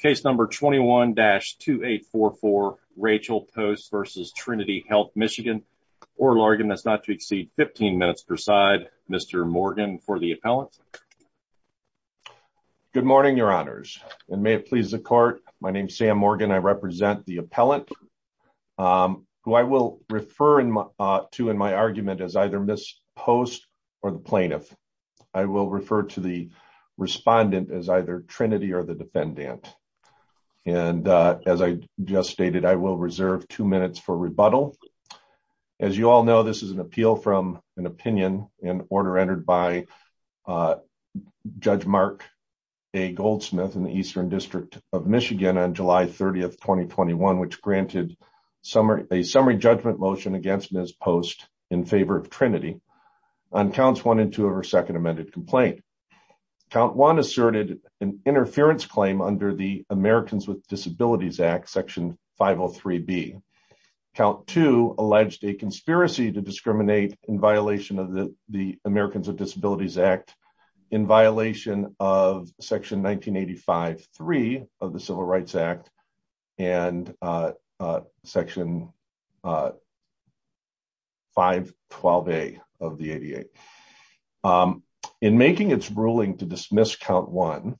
Case number 21-2844 Rachel Post v. Trinity Health Michigan. Oral argument is not to exceed 15 minutes per side. Mr. Morgan for the appellant. Good morning, your honors, and may it please the court. My name is Sam Morgan. I represent the appellant who I will refer to in my argument as either Ms. Post or the plaintiff. I will refer to the respondent as either Trinity or the defendant. And as I just stated, I will reserve two minutes for rebuttal. As you all know, this is an appeal from an opinion in order entered by Judge Mark A. Goldsmith in the Eastern District of Michigan on July 30th, 2021, which granted a summary judgment motion against Ms. Post in favor of Trinity on counts one and two of her amended complaint. Count one asserted an interference claim under the Americans with Disabilities Act, section 503B. Count two alleged a conspiracy to discriminate in violation of the Americans with Disabilities Act in violation of section 1985-3 of the Civil Rights Act and section 512A of the ADA. In making its ruling to dismiss count one,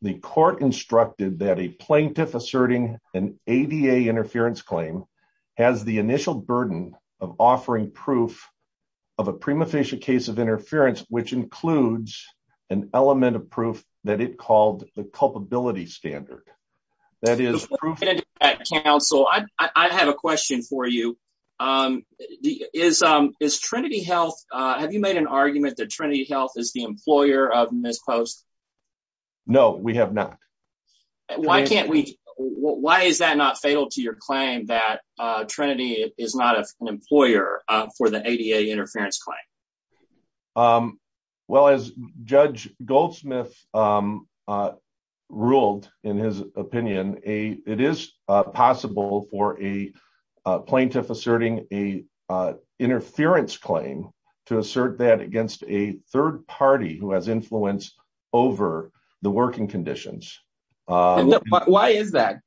the court instructed that a plaintiff asserting an ADA interference claim has the initial burden of offering proof of a prima facie case of interference, which includes an element of confidentiality. I have a question for you. Have you made an argument that Trinity Health is the employer of Ms. Post? No, we have not. Why is that not fatal to your claim that Trinity is not an employer for the ADA interference claim? Well, as Judge Goldsmith ruled in his opinion, it is possible for a plaintiff asserting an interference claim to assert that against a third party who has influence over the working conditions. Why is that?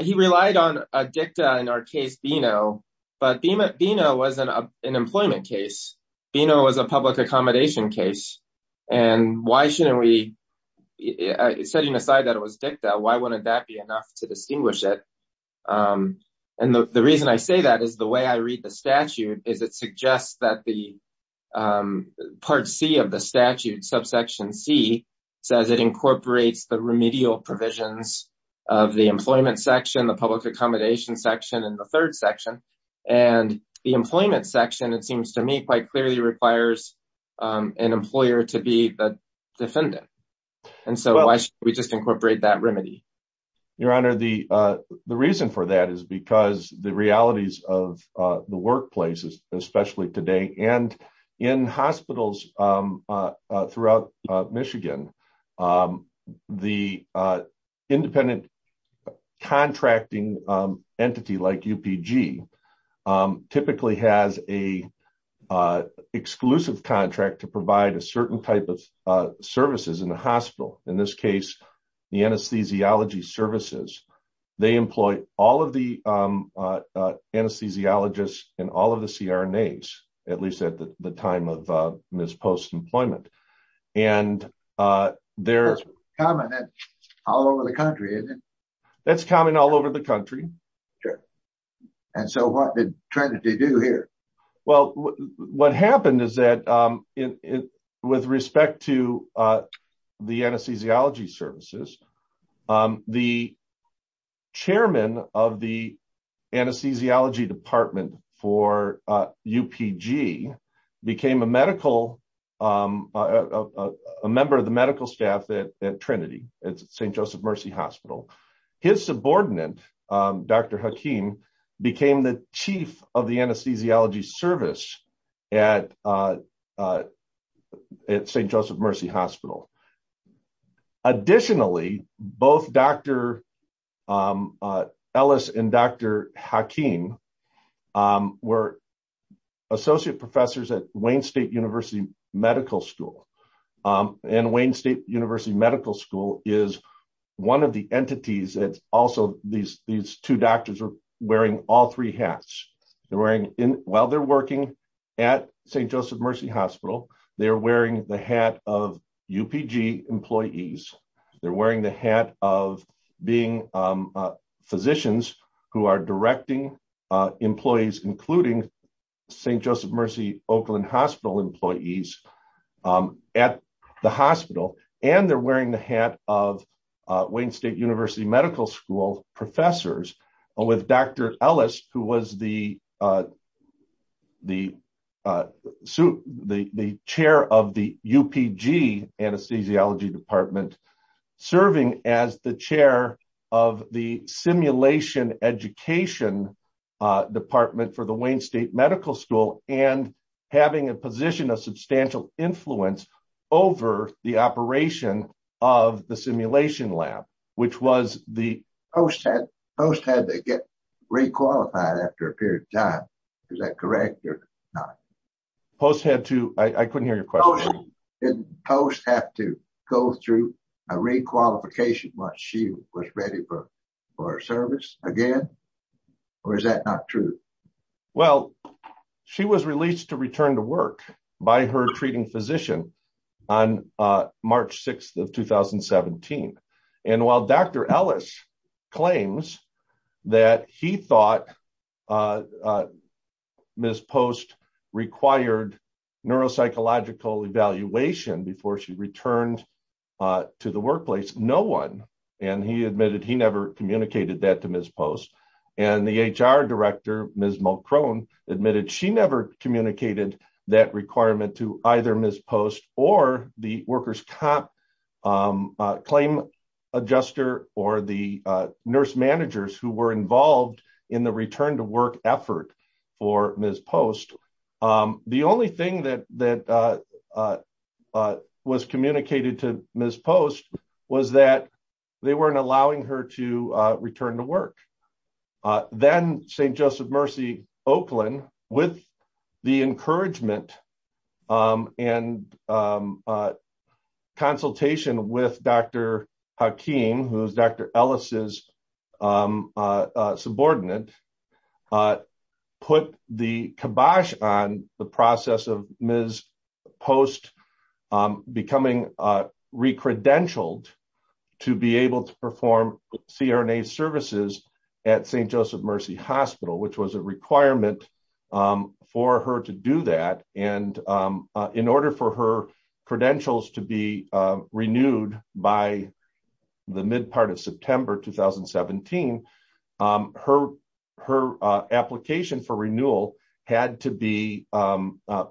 He relied on a dicta in our case, Bino, but Bino was an employment case. Bino was a public accommodation case. Setting aside that it was dicta, why wouldn't that be enough to distinguish it? The reason I say that is the way I read the statute is it suggests that part C of the statute, subsection C, says it incorporates the remedial provisions of the employment section, the public accommodation section, and the third section. And the employment section, it seems to me, quite clearly requires an employer to be the defendant. And so why should we just incorporate that remedy? Your Honor, the reason for that is because the realities of the workplaces, especially today, and in hospitals throughout Michigan, the independent contracting entity like UPG typically has an exclusive contract to provide a certain type of services in the hospital. In this case, the anesthesiology services. They employ all of the anesthesiologists and all of the CRNAs, at least at the time of Ms. Post's employment. That's common all over the country, isn't it? That's common all over the country. And so what did Trinity do here? Well, what happened is that with respect to the anesthesiology services, the chairman of the anesthesiology department for UPG became a member of the medical staff at Trinity, at St. Joseph Mercy Hospital. His subordinate, Dr. Hakeem, became the chief of the anesthesiology service at St. Joseph Mercy Hospital. Additionally, both Dr. Ellis and Dr. Hakeem were associate professors at Wayne State University Medical School. And Wayne State University Medical School is one of the entities that also these two doctors are wearing all three hats. While they're working at St. Joseph Mercy Hospital, they're wearing the hat of UPG employees. They're wearing the hat of being physicians who are directing employees, including St. Joseph Mercy Oakland Hospital employees at the hospital. And they're wearing the hat of Wayne State University Medical School professors with Dr. Ellis, who was the chair of the UPG anesthesiology department, serving as the chair of the simulation education department for the Wayne State Medical School and having a position of substantial influence over the operation of the simulation lab, which was the post had to get re-qualified after a period of time. Is that correct or not? Post had to, I couldn't hear your question. Did post have to go through a re-qualification once she was ready for for service again, or is that not true? Well, she was released to return to work by her treating physician on March 6th of 2017. And while Dr. Ellis claims that he thought Ms. Post required neuropsychological evaluation before she returned to the workplace, no one. And he admitted he never communicated that to Ms. Post. And the HR director, Ms. Mulcrone admitted she never communicated that requirement to either Ms. Post or the workers comp claim adjuster or the nurse managers who were involved in the return to work effort for Ms. Post. The only thing that that was communicated to Ms. Post was that they weren't allowing her to return to work. Then St. Joseph Mercy, Oakland, with the encouragement and consultation with Dr. Hakeem, who's Dr. Ellis's subordinate, put the kibosh on the process of Ms. Post becoming recredentialed to be able to perform CRNA services at St. Joseph Mercy Hospital, which was a requirement for her to do that. And in order for her credentials to be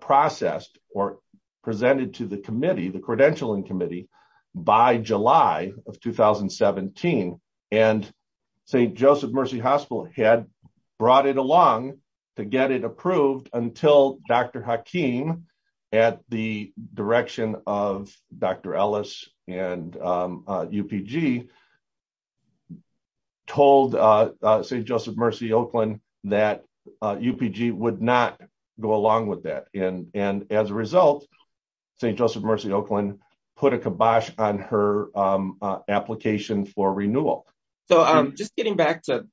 processed or presented to the committee, the credentialing committee, by July of 2017, and St. Joseph Mercy Hospital had brought it along to get it approved until Dr. Hakeem, at the direction of Dr. Ellis and UPG, told St. Joseph Mercy, Oakland, that UPG would not go along with that. And as a result, St. Joseph Mercy, Oakland, put a kibosh on her application for renewal. So just getting back to,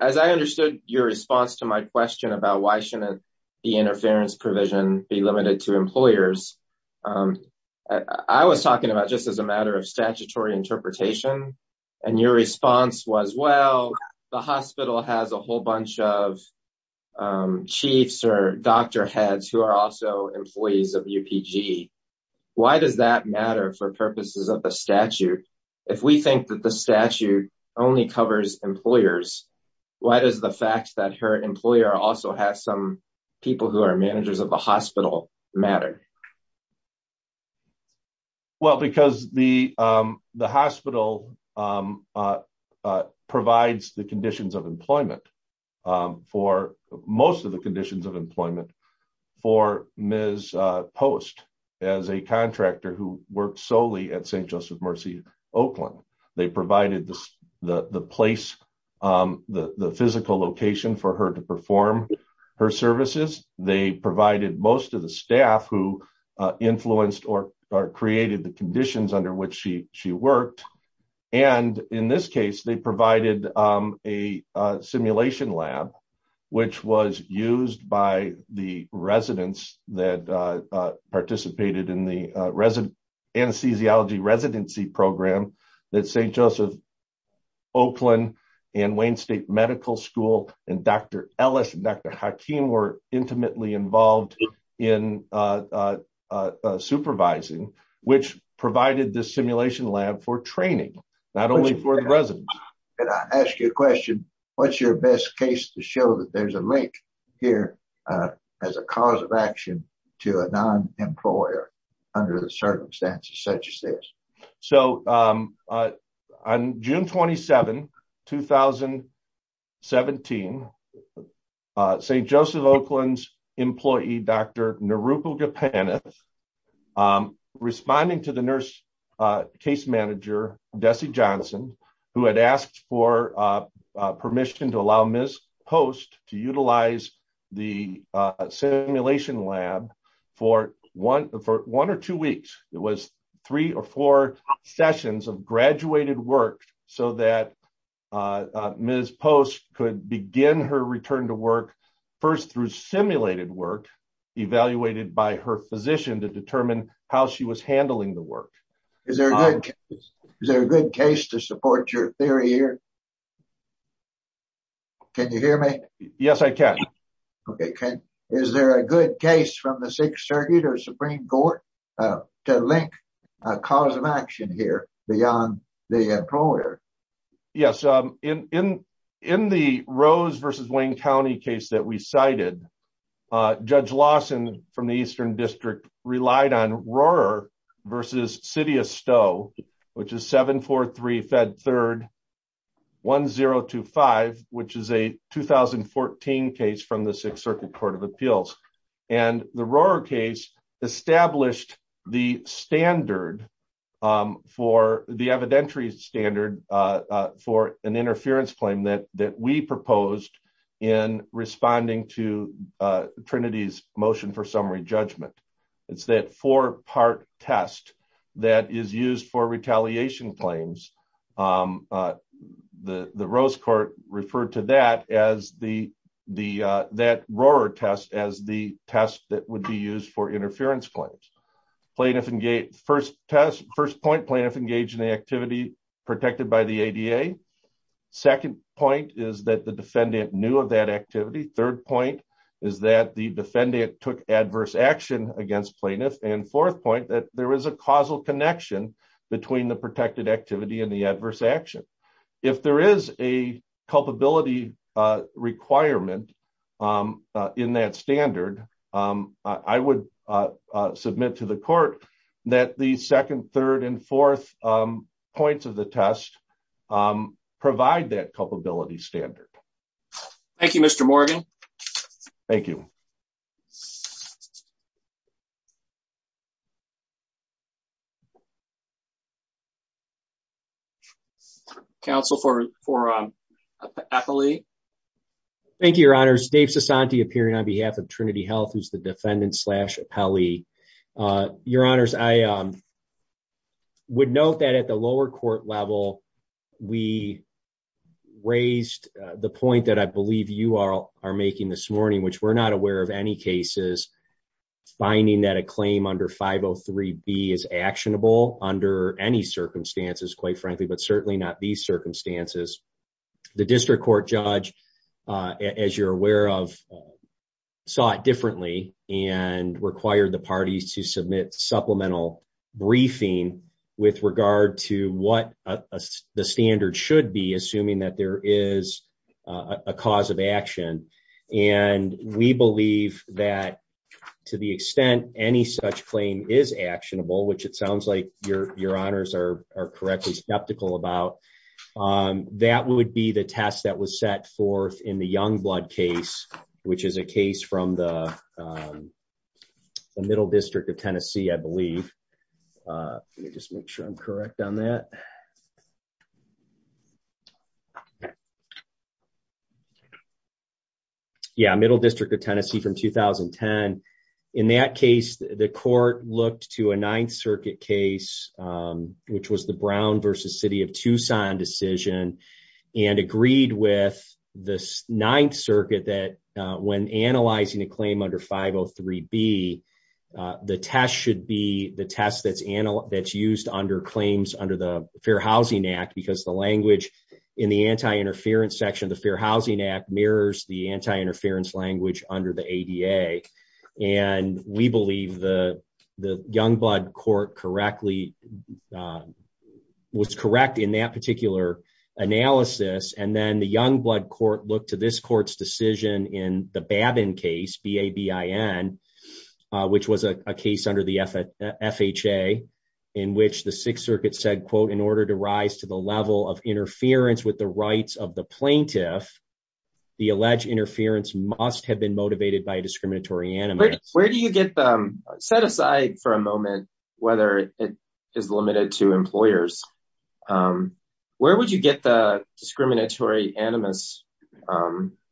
as I understood your response to my question about why shouldn't the interference provision be limited to employers, I was talking about just as a matter of statutory interpretation. And your response was, well, the hospital has a whole bunch of chiefs or doctor heads who are also employees of UPG. Why does that matter for purposes of the statute? If we think that the statute only covers employers, why does the fact that her employer also has some people who are managers of the hospital matter? Well, because the hospital provides the conditions of employment, for most of the conditions of employment, for Ms. Post, as a contractor who worked solely at St. Joseph Mercy, Oakland. They provided the place, the physical location for her to perform her services. They provided most of the staff who influenced or created the conditions under which she worked. And in this case, they provided a simulation lab, which was used by the residents that participated in the anesthesiology residency program that St. Joseph, Oakland, and Wayne State Medical School, and Dr. Ellis and Dr. Hakeem were intimately involved in supervising, which provided the simulation lab for training, not only for the residents. Can I ask you a question? What's your best case to show that there's a link here as a cause of action to a non-employer under the vaccine? St. Joseph, Oakland's employee, Dr. Narupal Gopinath, responding to the nurse case manager, Desi Johnson, who had asked for permission to allow Ms. Post to utilize the simulation lab for one or two weeks. It was three or four sessions of graduated work so that Ms. Post could begin her return to work first through simulated work evaluated by her physician to determine how she was handling the work. Is there a good case to support your theory here? Can you hear me? Yes, I can. Okay. Is there a good case from the Sixth Circuit or Supreme Court to link a cause of action here beyond the employer? Yes. In the Rose v. Wayne County case that we cited, Judge Lawson from the Eastern District relied on Rohrer v. City of Stowe, which is 743-Fed-3-1025, which is a 2014 case from the Sixth Circuit Court of Appeals. The Rohrer case established the evidentiary standard for an interference claim that we proposed in responding to Trinity's motion for summary judgment. It's that four-part test that is used for retaliation claims. The Rose Court referred to that Rohrer test as the test that would be used for interference claims. First point, plaintiff engaged in the activity protected by the ADA. Second point is that the defendant knew of that activity. Third point is that the defendant took adverse action against plaintiff. Fourth point is that there is a causal connection between the protected activity and the adverse action. If there is a culpability requirement in that standard, I would submit to the court that the second, third, and fourth points of the test provide that culpability standard. Thank you, Mr. Morgan. Thank you. Thank you, Your Honors. Dave Sasanti appearing on behalf of Trinity Health, who is the defendant slash appellee. Your Honors, I would note that at the lower court level, we raised the point that I finding that a claim under 503B is actionable under any circumstances, quite frankly, but certainly not these circumstances. The district court judge, as you're aware of, saw it differently and required the parties to submit supplemental briefing with regard to what the standard should that there is a cause of action. We believe that to the extent any such claim is actionable, which it sounds like Your Honors are correctly skeptical about, that would be the test that was set forth in the Youngblood case, which is a case from the Middle District of Tennessee, I believe. Let me just make sure I'm correct on that. Yeah, Middle District of Tennessee from 2010. In that case, the court looked to a Ninth Circuit case, which was the Brown versus City of Tucson decision, and agreed with the Ninth Circuit that when analyzing a claim under 503B, the test should be the test that's used under claims under the Fair Housing Act because the language in the anti-interference section of the Fair Housing Act mirrors the anti-interference language under the ADA. We believe the Youngblood court was correct in that particular analysis. Then the Youngblood court looked to this court's decision in the Babin case, B-A-B-I-N, which was a case under the FHA, in which the Sixth Circuit said, quote, in order to rise to the level of interference with the rights of the plaintiff, the alleged interference must have been motivated by a discriminatory animus. Where do you get, set aside for a moment, whether it is limited to employers, where would you get the discriminatory animus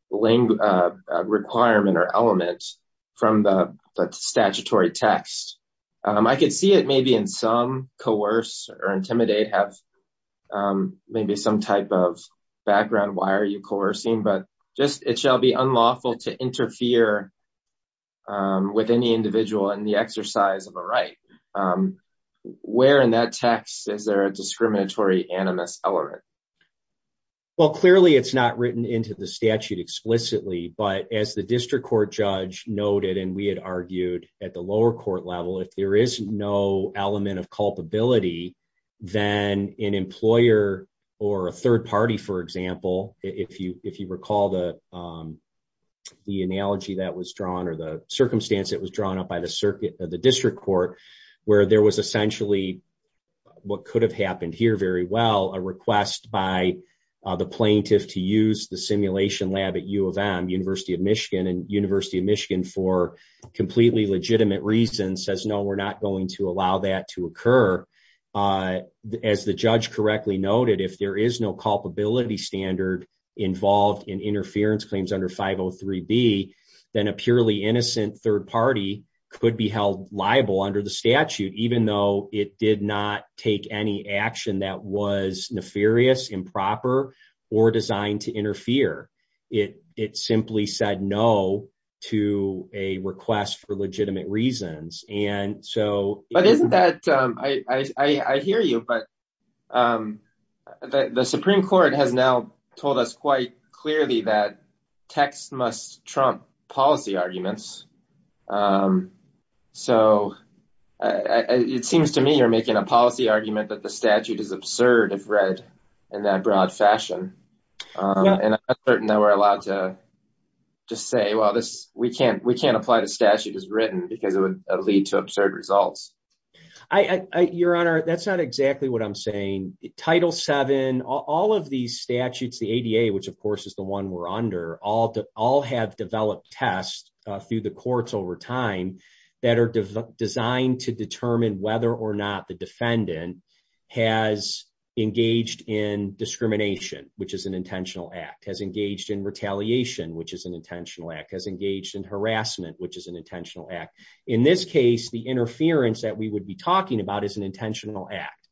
requirement or element from the statutory text? I could see it maybe in some, coerce or intimidate, have maybe some type of background, why are you coercing, but just, it shall be unlawful to interfere with any individual in exercise of a right. Where in that text is there a discriminatory animus element? Well, clearly it's not written into the statute explicitly, but as the district court judge noted, and we had argued at the lower court level, if there is no element of culpability, then an employer or a third party, for example, if you recall the analogy that was drawn or the district court, where there was essentially what could have happened here very well, a request by the plaintiff to use the simulation lab at U of M, University of Michigan, and University of Michigan for completely legitimate reasons says, no, we're not going to allow that to occur. As the judge correctly noted, if there is no culpability standard involved in libel under the statute, even though it did not take any action that was nefarious, improper, or designed to interfere, it simply said no to a request for legitimate reasons. But isn't that, I hear you, but the Supreme Court has now told us quite clearly that text must trump policy arguments. So it seems to me you're making a policy argument that the statute is absurd if read in that broad fashion. And I'm certain that we're allowed to just say, well, we can't apply the statute as written because it would lead to absurd results. Your Honor, that's not exactly what I'm saying. Title VII, all of these statutes, the ADA, which of course is the one we're under, all have developed tests through the courts over time that are designed to determine whether or not the defendant has engaged in discrimination, which is an intentional act, has engaged in retaliation, which is an intentional act, has engaged in harassment, which is an intentional act. In this case, the interference that we would be talking about is an intentional act.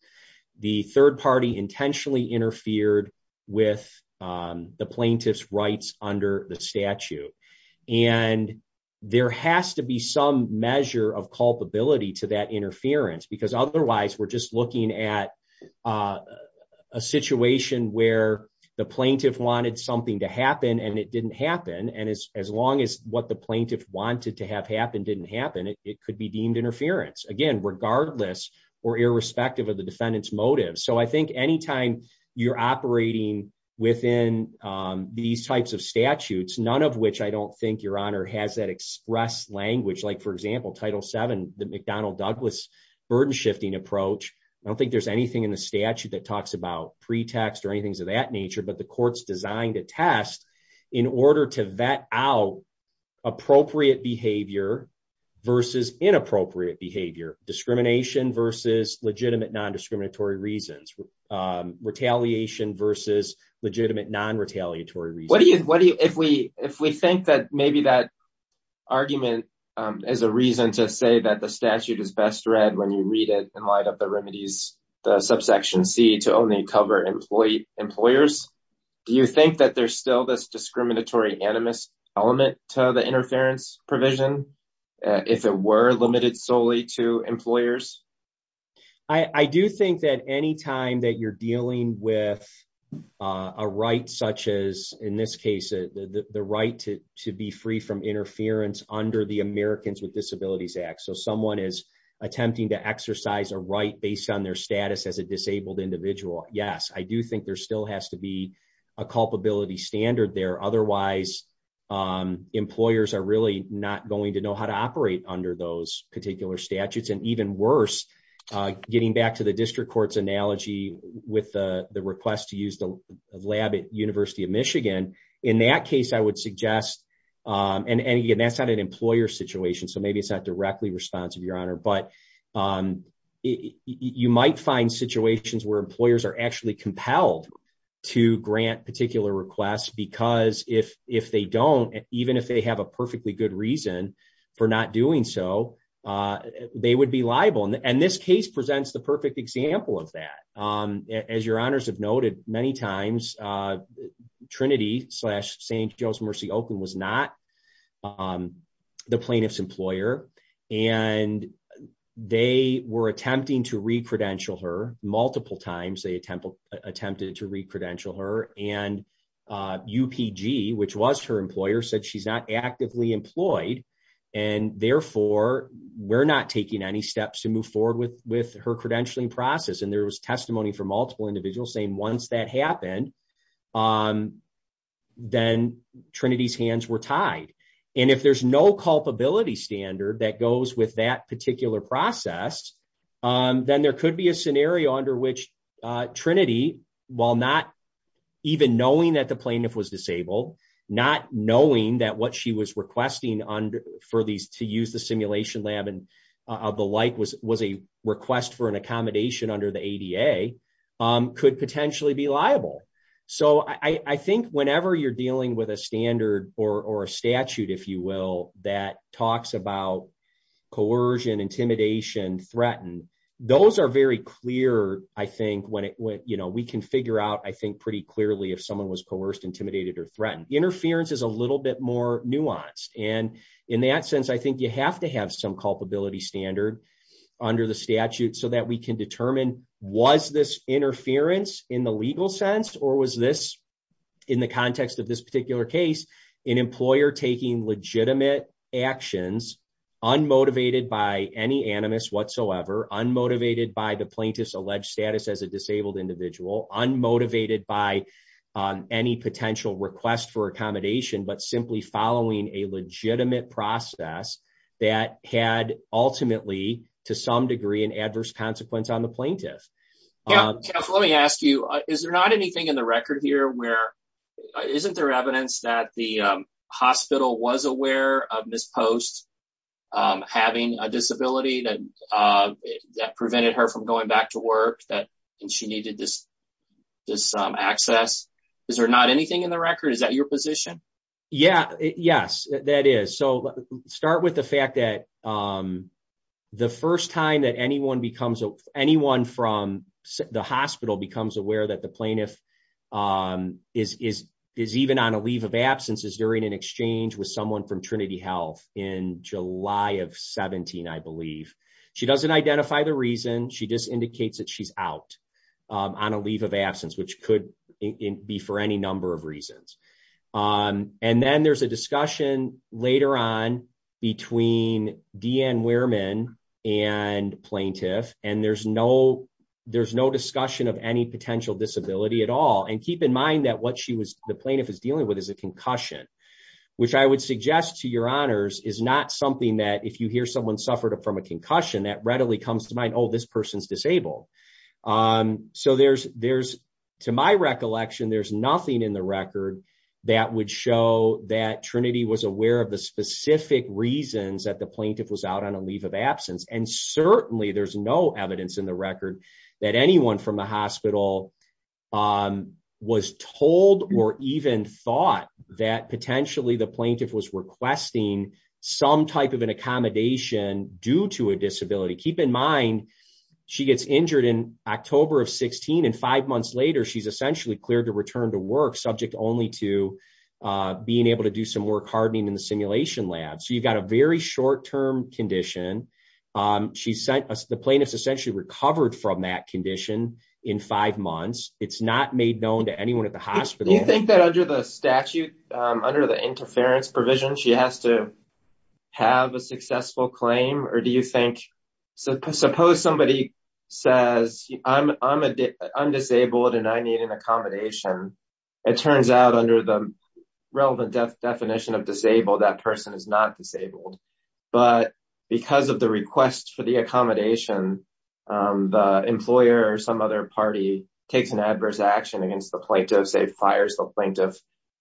The third party intentionally interfered with the plaintiff's rights under the statute. And there has to be some measure of culpability to that interference because otherwise we're just looking at a situation where the plaintiff wanted something to happen and it didn't happen. And as long as what the plaintiff wanted to have happen didn't happen, it could be deemed interference, again, regardless or irrespective of the defendant's motive. So I think anytime you're operating within these types of statutes, none of which I don't think, Your Honor, has that expressed language. Like for example, Title VII, the McDonnell-Douglas burden-shifting approach, I don't think there's anything in the statute that talks about pretext or anything of that nature, but the court's designed a test in order to vet out appropriate behavior versus inappropriate behavior, discrimination versus legitimate non-discriminatory reasons, retaliation versus legitimate non-retaliatory reasons. If we think that maybe that argument is a reason to say that the statute is best read when you read it and light up the remedies, the subsection C, to only cover employers, do you think that there's still this discriminatory animus element to the interference provision, if it were limited solely to employers? I do think that anytime that you're dealing with a right such as, in this case, the right to be free from interference under the Americans with Disabilities Act, so someone is attempting to exercise a right based on their status as a disabled individual, yes, I do think there still has to be a culpability standard there. Otherwise, employers are really not going to know how to operate under those particular statutes, and even worse, getting back to the district court's analogy with the request to use the lab at University of Michigan, in that case, I would suggest, and again, that's not an employer situation, so maybe it's not directly responsive, but you might find situations where employers are actually compelled to grant particular requests, because if they don't, even if they have a perfectly good reason for not doing so, they would be liable, and this case presents the perfect example of that. As your honors have noted many times, Trinity slash St. Joe's Mercy Oakland was not the plaintiff's employer, and they were attempting to re-credential her, multiple times they attempted to re-credential her, and UPG, which was her employer, said she's not actively employed, and therefore, we're not taking any steps to move forward with her credentialing process, and there was testimony from multiple individuals saying once that happened, then Trinity's hands were tied, and if there's no culpability standard that goes with that particular process, then there could be a scenario under which Trinity, while not even knowing that the plaintiff was disabled, not knowing that what she was requesting for these to use the simulation lab and the like was a request for an accommodation under the ADA, could potentially be liable. So, I think whenever you're dealing with a standard or a statute, if you will, that talks about coercion, intimidation, threatened, those are very clear, I think, when we can figure out, I think, pretty clearly if someone was coerced, intimidated, or threatened. Interference is a little bit more nuanced, and in that sense, I think you have to have some culpability standard under the statute so that we can determine was this interference in the legal sense or was this, in the context of this particular case, an employer taking legitimate actions, unmotivated by any animus whatsoever, unmotivated by the plaintiff's alleged status as a disabled individual, unmotivated by any potential request for that had ultimately, to some degree, an adverse consequence on the plaintiff. Yeah, let me ask you, is there not anything in the record here where, isn't there evidence that the hospital was aware of Ms. Post having a disability that prevented her from going back to work, that she needed this access? Is there not anything in the record? Is that your position? Yeah, yes, that is. So, start with the fact that the first time that anyone from the hospital becomes aware that the plaintiff is even on a leave of absence is during an exchange with someone from Trinity Health in July of 17, I believe. She doesn't identify the reason, she just indicates that she's out on a leave of absence, which could be for any number of reasons. And then there's a discussion later on between Deanne Wehrman and plaintiff, and there's no discussion of any potential disability at all. And keep in mind that what the plaintiff is dealing with is a concussion, which I would suggest to your honors is not something that, if you hear someone suffered from a concussion, that readily comes to mind, oh, this person's disabled. So, to my recollection, there's nothing in the record that would show that Trinity was aware of the specific reasons that the plaintiff was out on a leave of absence. And certainly, there's no evidence in the record that anyone from the hospital was told or even thought that potentially the plaintiff was requesting some type of an accommodation due to a disability. Keep in mind, she gets injured in October of 16, and five months later, she's essentially cleared to return to work subject only to being able to do some work hardening in the simulation lab. So, you've got a very short-term condition. The plaintiff's essentially recovered from that condition in five months. It's not made known to anyone at the hospital. Do you think that under the statute, under the interference provision, she has to have a successful claim? Or do you think, suppose somebody says, I'm disabled and I need an accommodation. It turns out under the relevant definition of disabled, that person is not disabled. But because of the request for the accommodation, the employer or some other party takes an adverse action against the plaintiff, say fires the plaintiff.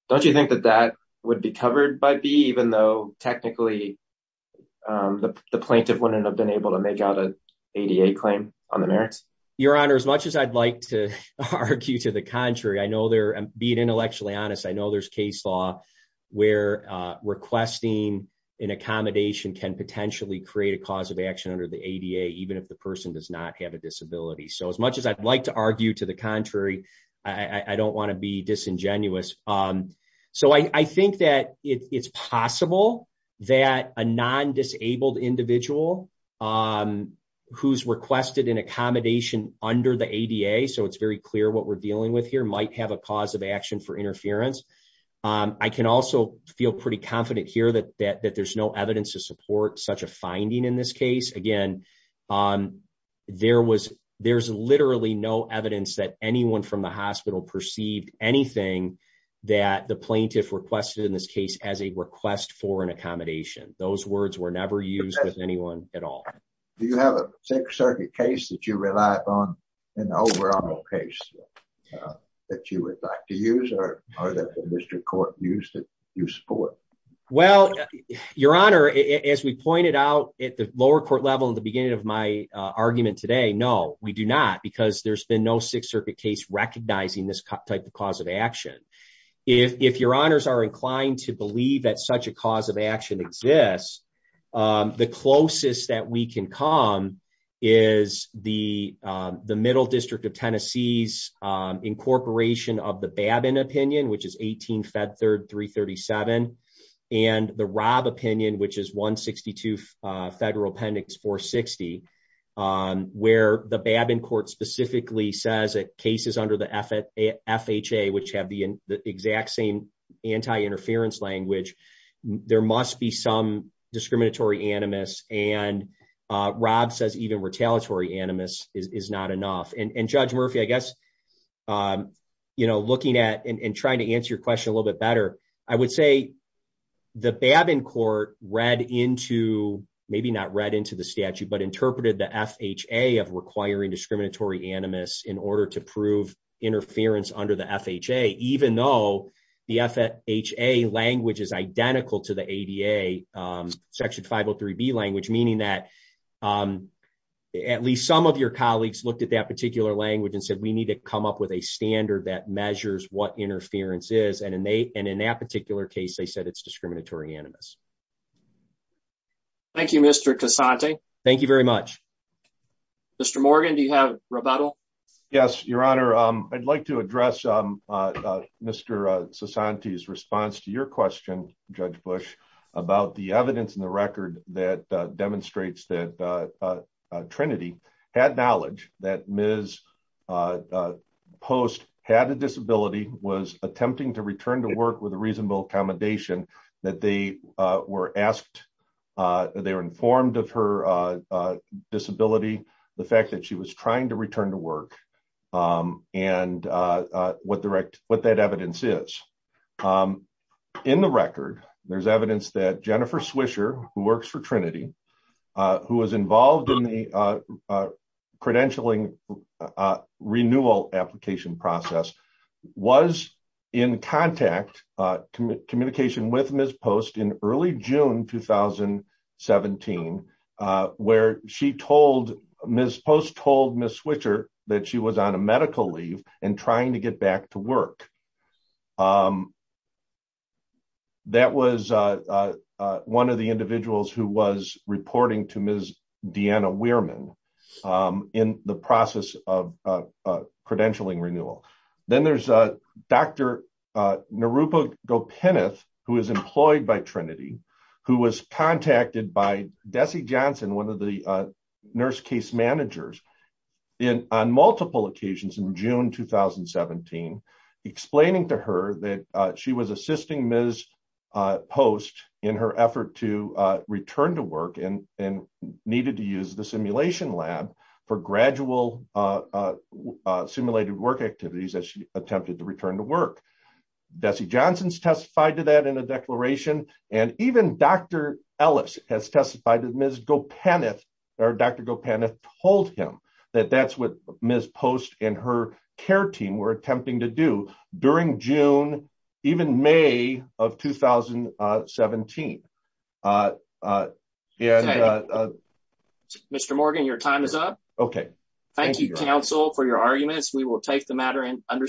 Don't you think that that would be covered by B, even though technically the plaintiff wouldn't have been able to make out an ADA claim on the merits? Your Honor, as much as I'd like to argue to the contrary, I know there, being intellectually honest, I know there's case law where requesting an accommodation can potentially create a cause of action under the ADA, even if the person does not have a disability. So, as much as I'd like to argue to the contrary, I don't want to be disingenuous. So, I think it's possible that a non-disabled individual who's requested an accommodation under the ADA, so it's very clear what we're dealing with here, might have a cause of action for interference. I can also feel pretty confident here that there's no evidence to support such a finding in this case. Again, there's literally no evidence that anyone from the hospital perceived anything that the plaintiff requested in this case as a request for an accommodation. Those words were never used with anyone at all. Do you have a Sixth Circuit case that you relied on in the overall case that you would like to use or that the district court used that you support? Well, Your Honor, as we pointed out at the lower court level at the beginning of my argument today, no, we do not because there's been no Sixth Circuit case recognizing this type of cause of action. If Your Honors are inclined to believe that such a cause of action exists, the closest that we can come is the Middle District of Tennessee's incorporation of the Babin opinion, which is 18 Fed Third 337, and the Robb opinion, which is 162 Federal Appendix 460, where the Babin court specifically says that cases under the FHA, which have the exact same anti-interference language, there must be some discriminatory animus, and Robb says even retaliatory animus is not enough. And Judge Murphy, I guess looking at and trying to answer your question a little bit better, I would say the Babin court read into, maybe not read into the statute, but interpreted the FHA of requiring discriminatory animus in order to prove interference under the FHA, even though the FHA language is identical to the ADA Section 503B language, meaning that at least some of your colleagues looked at that particular language and said we need to come up with a standard that measures what interference is, and in that case they said it's discriminatory animus. Thank you, Mr. Casante. Thank you very much. Mr. Morgan, do you have rebuttal? Yes, your honor. I'd like to address Mr. Casante's response to your question, Judge Bush, about the evidence in the record that demonstrates that Trinity had Ms. Post had a disability, was attempting to return to work with a reasonable accommodation, that they were informed of her disability, the fact that she was trying to return to work, and what that evidence is. In the record, there's evidence that Jennifer Swisher, who works for Trinity, who was involved in the credentialing renewal application process, was in contact, communication with Ms. Post in early June 2017, where she told, Ms. Post told Ms. Swisher that she was on a medical leave and trying to get back to work. That was one of the individuals who was reporting to Ms. Deanna Weirman in the process of credentialing renewal. Then there's Dr. Narupa Gopinath, who is employed by Trinity, who was contacted by Desi Johnson, one of the nurse case managers, on multiple occasions in June 2017, explaining to her that she was assisting Ms. Post in her effort to return to work and needed to use the simulation lab for gradual simulated work activities as she attempted to return to work. Desi Johnson's testified to that in a declaration, and even Dr. Ellis has shared what the Trinity care team were attempting to do during June, even May of 2017. Mr. Morgan, your time is up. Thank you, counsel, for your arguments. We will take the matter under submission.